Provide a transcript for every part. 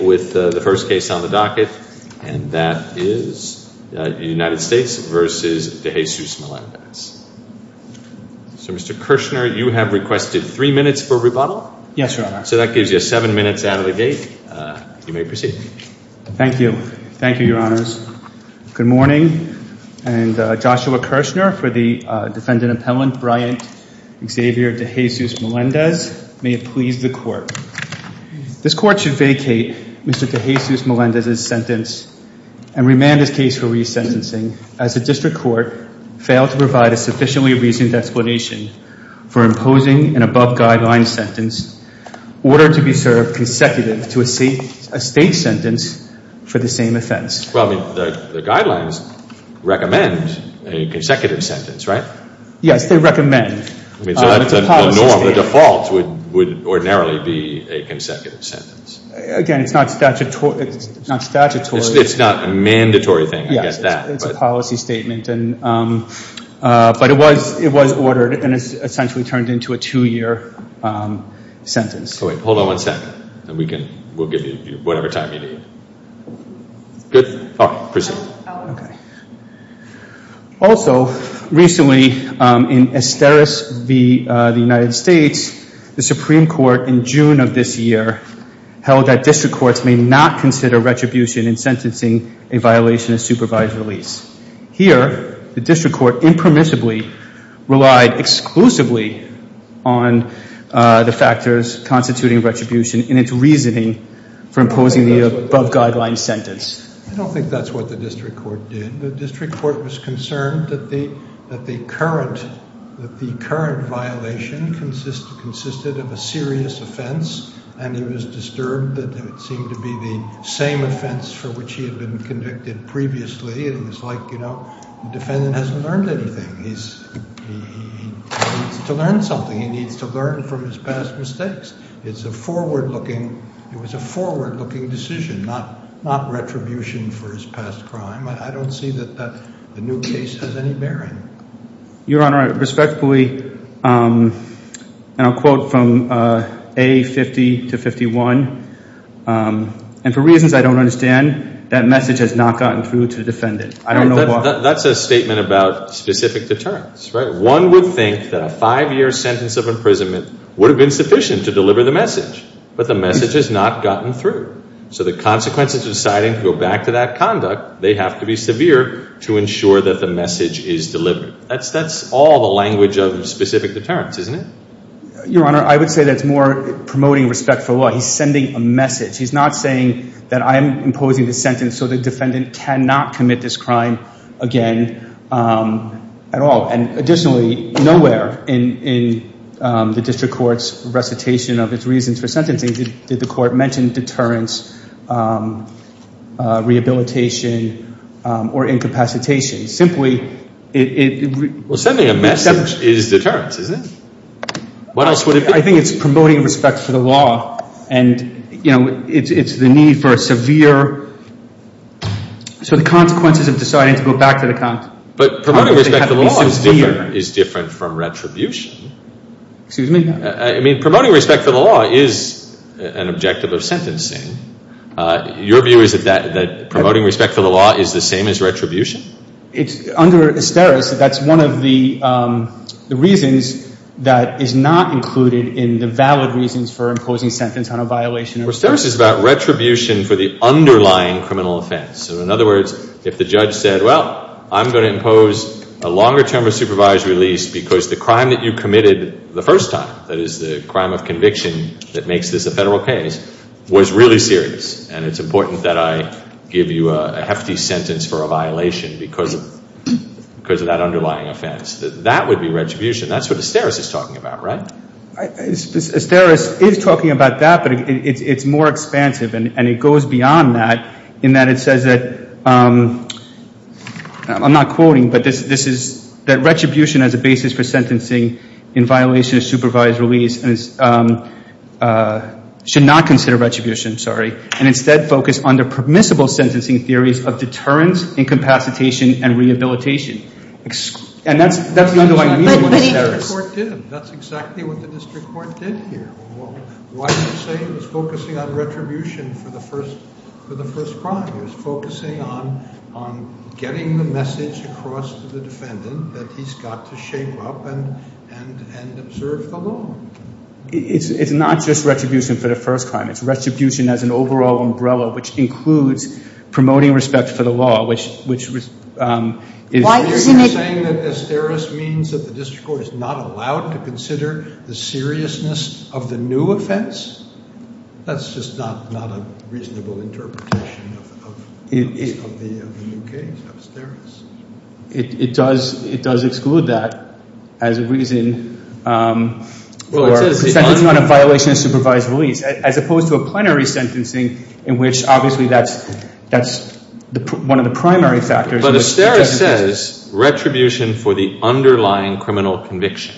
with the first case on the docket, and that is United States v. De Jesus-Melendez. So Mr. Kirshner, you have requested three minutes for rebuttal. Yes, Your Honor. So that gives you seven minutes out of the gate. You may proceed. Thank you. Thank you, Your Honors. Good morning. And Joshua Kirshner for the defendant appellant, Bryant Xavier De Jesus-Melendez. May it please the Court. This Court should vacate Mr. De Jesus-Melendez's sentence and remand his case for resentencing as the District Court failed to provide a sufficiently reasoned explanation for imposing an above-guideline sentence ordered to be served consecutive to a state sentence for the same offense. Well, the guidelines recommend a consecutive sentence, right? Yes, they recommend. I mean, so that's a norm. The default would ordinarily be a consecutive sentence. Again, it's not statutory. It's not a mandatory thing, I guess. Yes, it's a policy statement. But it was ordered, and it's essentially turned into a two-year sentence. Hold on one second, and we'll give you whatever time you need. Good? All right, proceed. Okay. Also, recently in Esteras v. the United States, the Supreme Court in June of this year held that District Courts may not consider retribution in sentencing a violation of supervised release. Here, the District Court impermissibly relied exclusively on the factors constituting retribution in its reasoning for imposing the above-guideline sentence. I don't think that's what the District Court did. The District Court was concerned that the current violation consisted of a serious offense, and it was disturbed that it seemed to be the same offense for which he had been convicted previously. It was like, you know, the defendant hasn't learned anything. He needs to learn something. He needs to learn from his past mistakes. It's a forward-looking, it was a forward-looking decision, not retribution for his past crime. I don't see that the new case has any bearing. Your Honor, I respectfully, and I'll quote from A50 to 51, and for reasons I don't understand, that message has not gotten through to the defendant. I don't know why. That's a statement about specific deterrence, right? One would think that a five-year sentence of imprisonment would have been sufficient to deliver the message, but the message has not gotten through. So the consequences of deciding to go back to that conduct, they have to be severe to ensure that the message is delivered. That's all the language of specific deterrence, isn't it? Your Honor, I would say that's more promoting respectful law. He's sending a message. He's not saying that I am imposing the sentence so the defendant cannot commit this crime again at all. And additionally, nowhere in the district court's recitation of its reasons for sentencing did the court mention deterrence, rehabilitation, or incapacitation. Simply, it... Well, sending a message is deterrence, isn't it? What else would it be? I think it's promoting respect for the law. And, you know, it's the need for a severe... So the consequences of deciding to go back to the conduct... But promoting respect for the law is different from retribution. Excuse me? I mean, promoting respect for the law is an objective of sentencing. Your view is that promoting respect for the law is the same as retribution? It's under asterisks. That's one of the reasons that is not included in the valid reasons for imposing sentence on a violation of... Asterisk is about retribution for the underlying criminal offense. So in other words, if the judge said, well, I'm going to impose a longer term of supervised release because the crime that you committed the first time, that is the crime of conviction that makes this a federal case, was really serious and it's important that I give you a hefty sentence for a violation because of that underlying offense. That would be retribution. That's what asterisk is talking about, right? Asterisk is talking about that, but it's more expansive and it goes beyond that in that it says that... I'm not quoting, but this is that retribution as a basis for sentencing in violation of supervised release should not consider retribution, sorry, and instead focus on the permissible sentencing theories of deterrence, incapacitation and rehabilitation. And that's the underlying reason for the asterisk. That's exactly what the district court did here. Why do you say it was focusing on retribution for the first crime? It was focusing on getting the message across to the defendant that he's got to shape up and observe the law. It's not just retribution for the first time. It's retribution as an overall umbrella, which includes promoting respect for the law, which is... Why are you saying that asterisk means that the district court is not allowed to consider the seriousness of the new offense? That's just not a reasonable interpretation of the new case, of asterisk. It does exclude that as a reason for sentencing on a violation of supervised release. As opposed to a plenary sentencing in which obviously that's one of the primary factors. But asterisk says retribution for the underlying criminal conviction.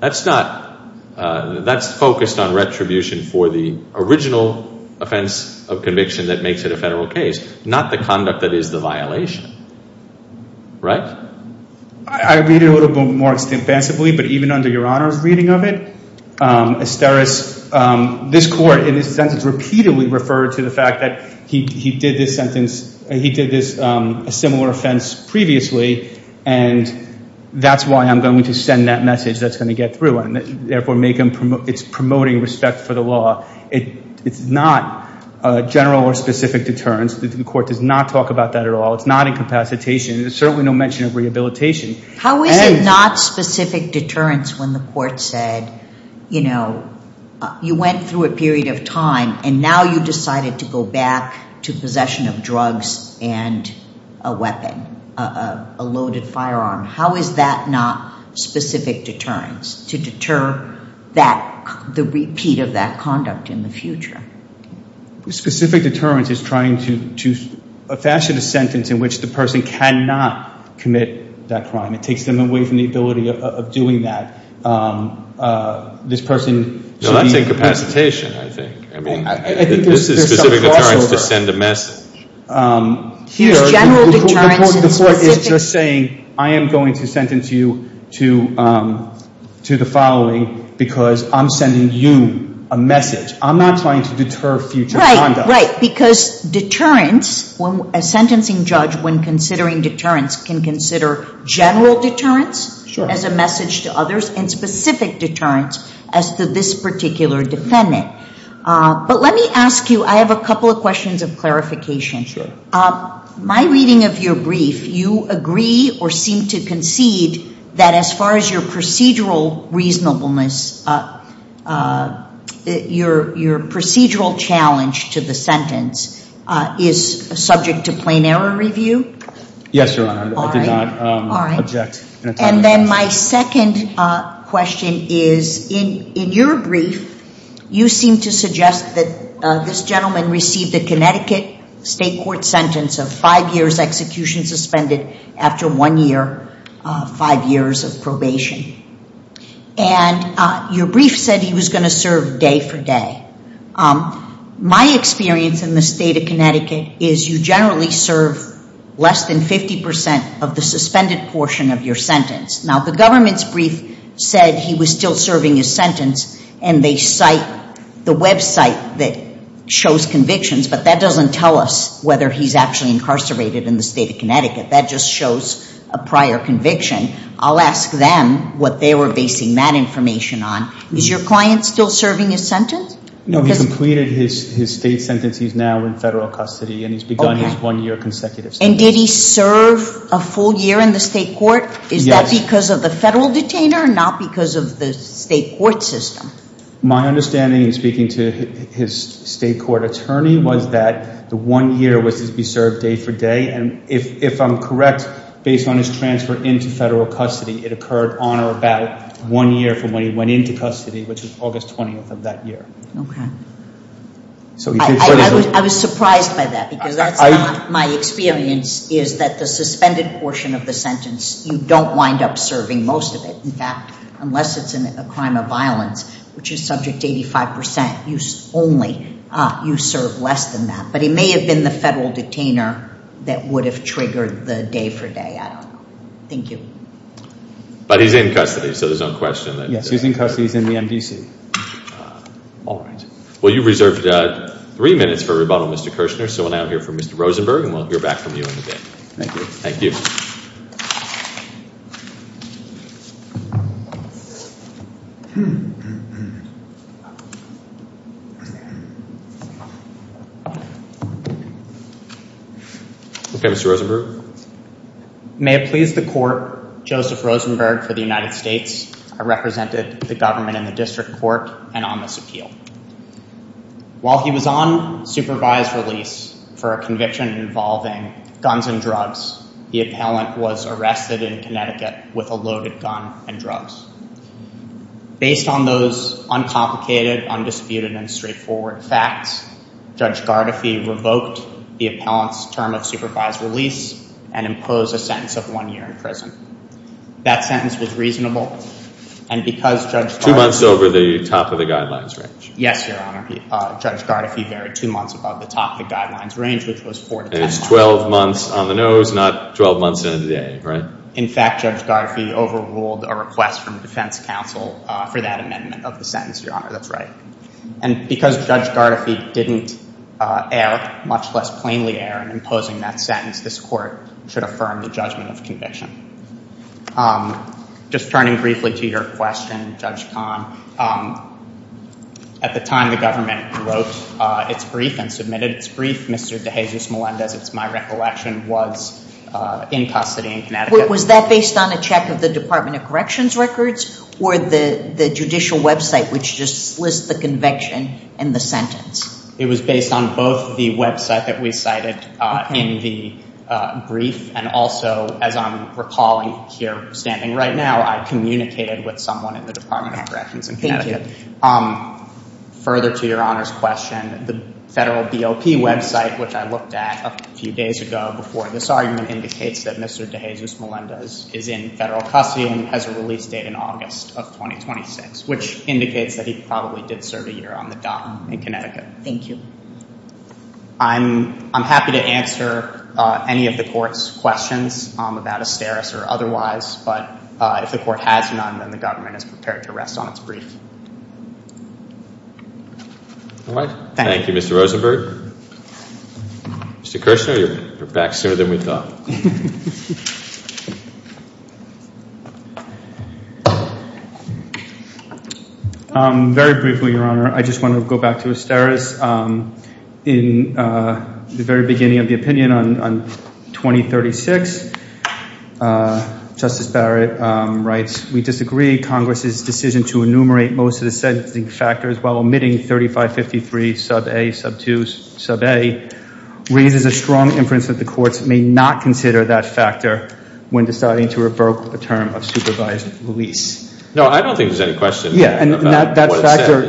That's not... That's focused on retribution for the original offense of conviction that makes it a federal case, not the conduct that is the violation. Right? I read it a little bit more extensively, but even under Your Honor's reading of it, asterisk... This court in this sentence repeatedly referred to the fact that he did this sentence... He did this similar offense previously, and that's why I'm going to send that message that's going to get through and therefore make him... It's promoting respect for the law. It's not a general or specific deterrence. The court does not talk about that at all. It's not incapacitation. There's certainly no mention of rehabilitation. How is it not specific deterrence when the court said, you know, you went through a period of time and now you decided to go back to possession of drugs and a weapon, a loaded firearm? How is that not specific deterrence to deter the repeat of that conduct in the future? Specific deterrence is trying to fashion a sentence in which the person cannot commit that crime. It takes them away from the ability of doing that. This person... No, that's incapacitation, I think. I mean, this is specific deterrence to send a message. Here, the court is just saying, I am going to sentence you to the following because I'm sending you a message. I'm not trying to deter future conduct. Right. Because deterrence, a sentencing judge when considering deterrence can consider general deterrence as a message to others and specific deterrence as to this particular defendant. But let me ask you, I have a couple of questions of clarification. My reading of your brief, you agree or seem to concede that as far as your procedural reasonableness, your procedural challenge to the sentence is subject to plain error review? Yes, Your Honor. I did not object. And then my second question is in your brief, you seem to suggest that this gentleman received the Connecticut State Court sentence of five years execution suspended after one year, five years of probation. And your brief said he was served day for day. My experience in the state of Connecticut is you generally serve less than 50% of the suspended portion of your sentence. Now, the government's brief said he was still serving his sentence and they cite the website that shows convictions, but that doesn't tell us whether he's actually incarcerated in the state of Connecticut. That just shows a prior conviction. I'll ask them what they were basing that information on. Is your client still serving his sentence? No, he completed his state sentence. He's now in federal custody and he's begun his one-year consecutive sentence. And did he serve a full year in the state court? Yes. Is that because of the federal detainer and not because of the state court system? My understanding in speaking to his state court attorney was that the one year was to be served day for day. And if I'm correct, based on his transfer into federal custody, it occurred on or about one year from when he went into custody, which was August 20th of that year. Okay. I was surprised by that because that's not my experience, is that the suspended portion of the sentence, you don't wind up serving most of it. In fact, unless it's a crime of violence, which is subject to 85%, you only serve less than that. But he may have been the federal detainer that would have triggered the day for day. I don't know. Thank you. But he's in custody, so there's no question that- Yes, he's in custody, he's in the MDC. All right. Well, you reserved three minutes for rebuttal, Mr. Kirshner. So we'll now hear from Mr. Rosenberg and we'll hear back from you in a bit. Thank you. Thank you. Okay, Mr. Rosenberg. May it please the court, Joseph Rosenberg for the United States. I represented the government in the district court and on this appeal. While he was on supervised release for a conviction involving guns and drugs, the appellant was arrested in Connecticut with a loaded gun and drugs. Based on those uncomplicated, undisputed, and straightforward facts, Judge Gardefee revoked the appellant's term of supervised release and imposed a sentence of one year in prison. That sentence was reasonable and because Judge Gardefee- Two months over the top of the guidelines range. Yes, Your Honor. Judge Gardefee varied two months above the top of the guidelines range, which was four to- It was 12 months on the nose, not 12 months in a day, right? In fact, Judge Gardefee overruled a request from defense counsel for that amendment of the didn't err, much less plainly err in imposing that sentence. This court should affirm the judgment of conviction. Just turning briefly to your question, Judge Kahn, at the time the government wrote its brief and submitted its brief, Mr. DeJesus Melendez, it's my recollection, was in custody in Connecticut. Was that based on a check of the Department of Corrections records or the judicial website which just lists the conviction in the It was based on both the website that we cited in the brief and also, as I'm recalling here standing right now, I communicated with someone in the Department of Corrections in Connecticut. Further to Your Honor's question, the federal BOP website, which I looked at a few days ago before this argument, indicates that Mr. DeJesus Melendez is in federal custody and has a release date in August of 2026, which indicates that he probably did serve a year on the dock in Connecticut. Thank you. I'm happy to answer any of the court's questions about Asteris or otherwise, but if the court has none, then the government is prepared to rest on its brief. All right. Thank you, Mr. Rosenberg. Mr. Kirshner, you're back sooner than we thought. Thank you. Very briefly, Your Honor, I just want to go back to Asteris. In the very beginning of the opinion on 2036, Justice Barrett writes, we disagree. Congress's decision to enumerate most of the sentencing factors while omitting 3553, sub a, sub 2, sub a, raises a strong inference that the courts may not consider that factor when deciding to revoke a term of supervised release. No, I don't think there's any question. Yeah. And that factor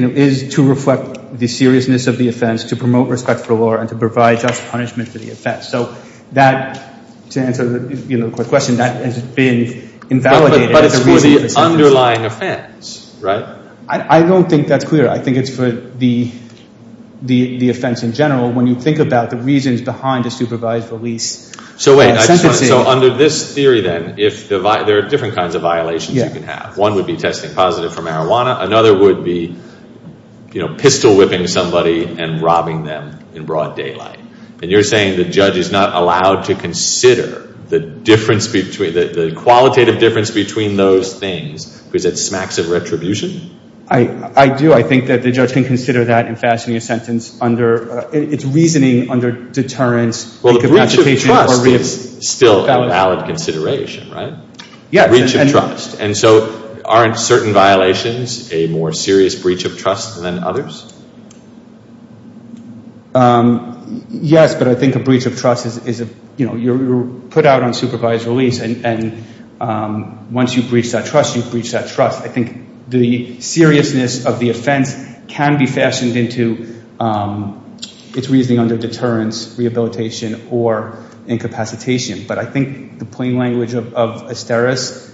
is to reflect the seriousness of the offense, to promote respect for the law, and to provide just punishment for the offense. So that, to answer the question, that has been invalidated as a reason for sentencing. But it's for the underlying offense, right? I don't think that's clear. I think it's for the offense in general. When you think about the reasons behind a supervised release. So under this theory then, there are different kinds of violations you can have. One would be testing positive for marijuana. Another would be, you know, pistol whipping somebody and robbing them in broad daylight. And you're saying the judge is not allowed to consider the difference between, the qualitative difference between those things because it smacks of retribution? I do. I think that the judge can consider that in fastening a sentence under, it's reasoning under deterrence. Well, the breach of trust is still a valid consideration, right? Yeah. Breach of trust. And so aren't certain violations a more serious breach of trust than others? Yes, but I think a breach of trust is, you know, you're put out on supervised release and once you've breached that trust, you've breached that into, it's reasoning under deterrence, rehabilitation or incapacitation. But I think the plain language of Asteris,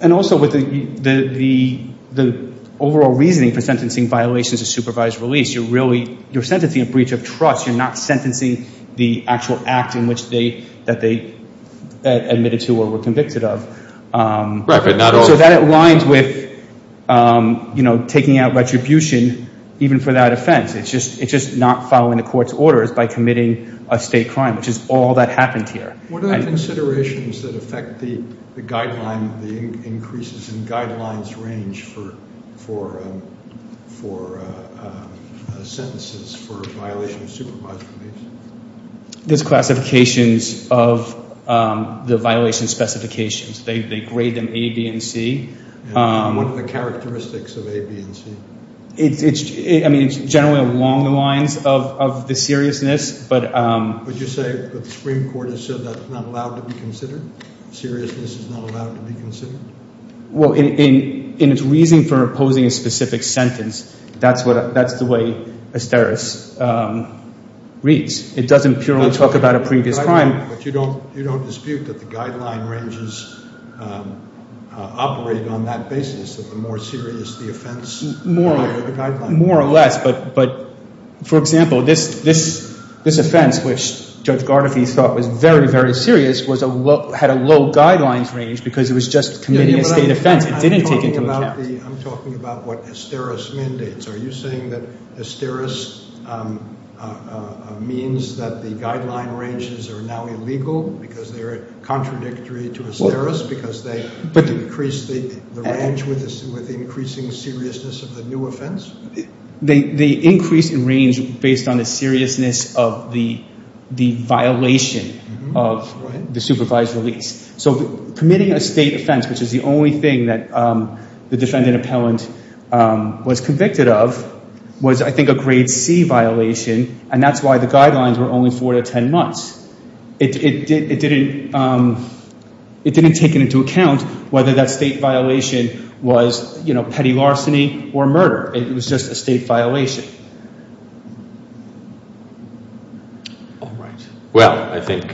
and also with the overall reasoning for sentencing violations of supervised release, you're really, you're sentencing a breach of trust. You're not sentencing the actual act in which they, that they admitted to or were convicted of. So that aligns with, you know, taking out retribution even for that offense. It's just, it's just not following the court's orders by committing a state crime, which is all that happened here. What are the considerations that affect the guideline, the increases in guidelines range for sentences for violations of supervised release? There's classifications of the violation specifications. They grade them A, B, and C. What are the characteristics of A, B, and C? It's, I mean, it's generally along the lines of the seriousness, but... Would you say that the Supreme Court has said that's not allowed to be considered? Seriousness is not allowed to be considered? Well, in its reasoning for opposing a specific sentence, that's what, that's the way Asteris reads. It doesn't purely talk about a previous crime. But you don't, you don't dispute that the guideline ranges operate on that basis, that the more serious the offense, the higher the guideline. More or less, but, but for example, this, this, this offense, which Judge Gardefee thought was very, very serious, was a low, had a low guidelines range because it was just committing a state offense. It didn't take into account... I'm talking about the, I'm talking about what Asteris mandates. Are you saying that Asteris means that the guideline ranges are now illegal because they're contradictory to Asteris, because they increase the range with increasing seriousness of the new offense? They increase in range based on the seriousness of the, the violation of the supervised release. So committing a state offense, which is the only thing that the defendant appellant was convicted of, was I think a grade C violation. And that's why the guidelines were only four to 10 months. It didn't, it didn't, it didn't take it into account whether that state violation was, you know, petty larceny or murder. It was just a state violation. All right. Well, I think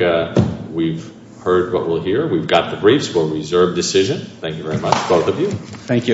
we've heard what we'll hear. We've got the briefs for reserve decision. Thank you very much, both of you. Thank you.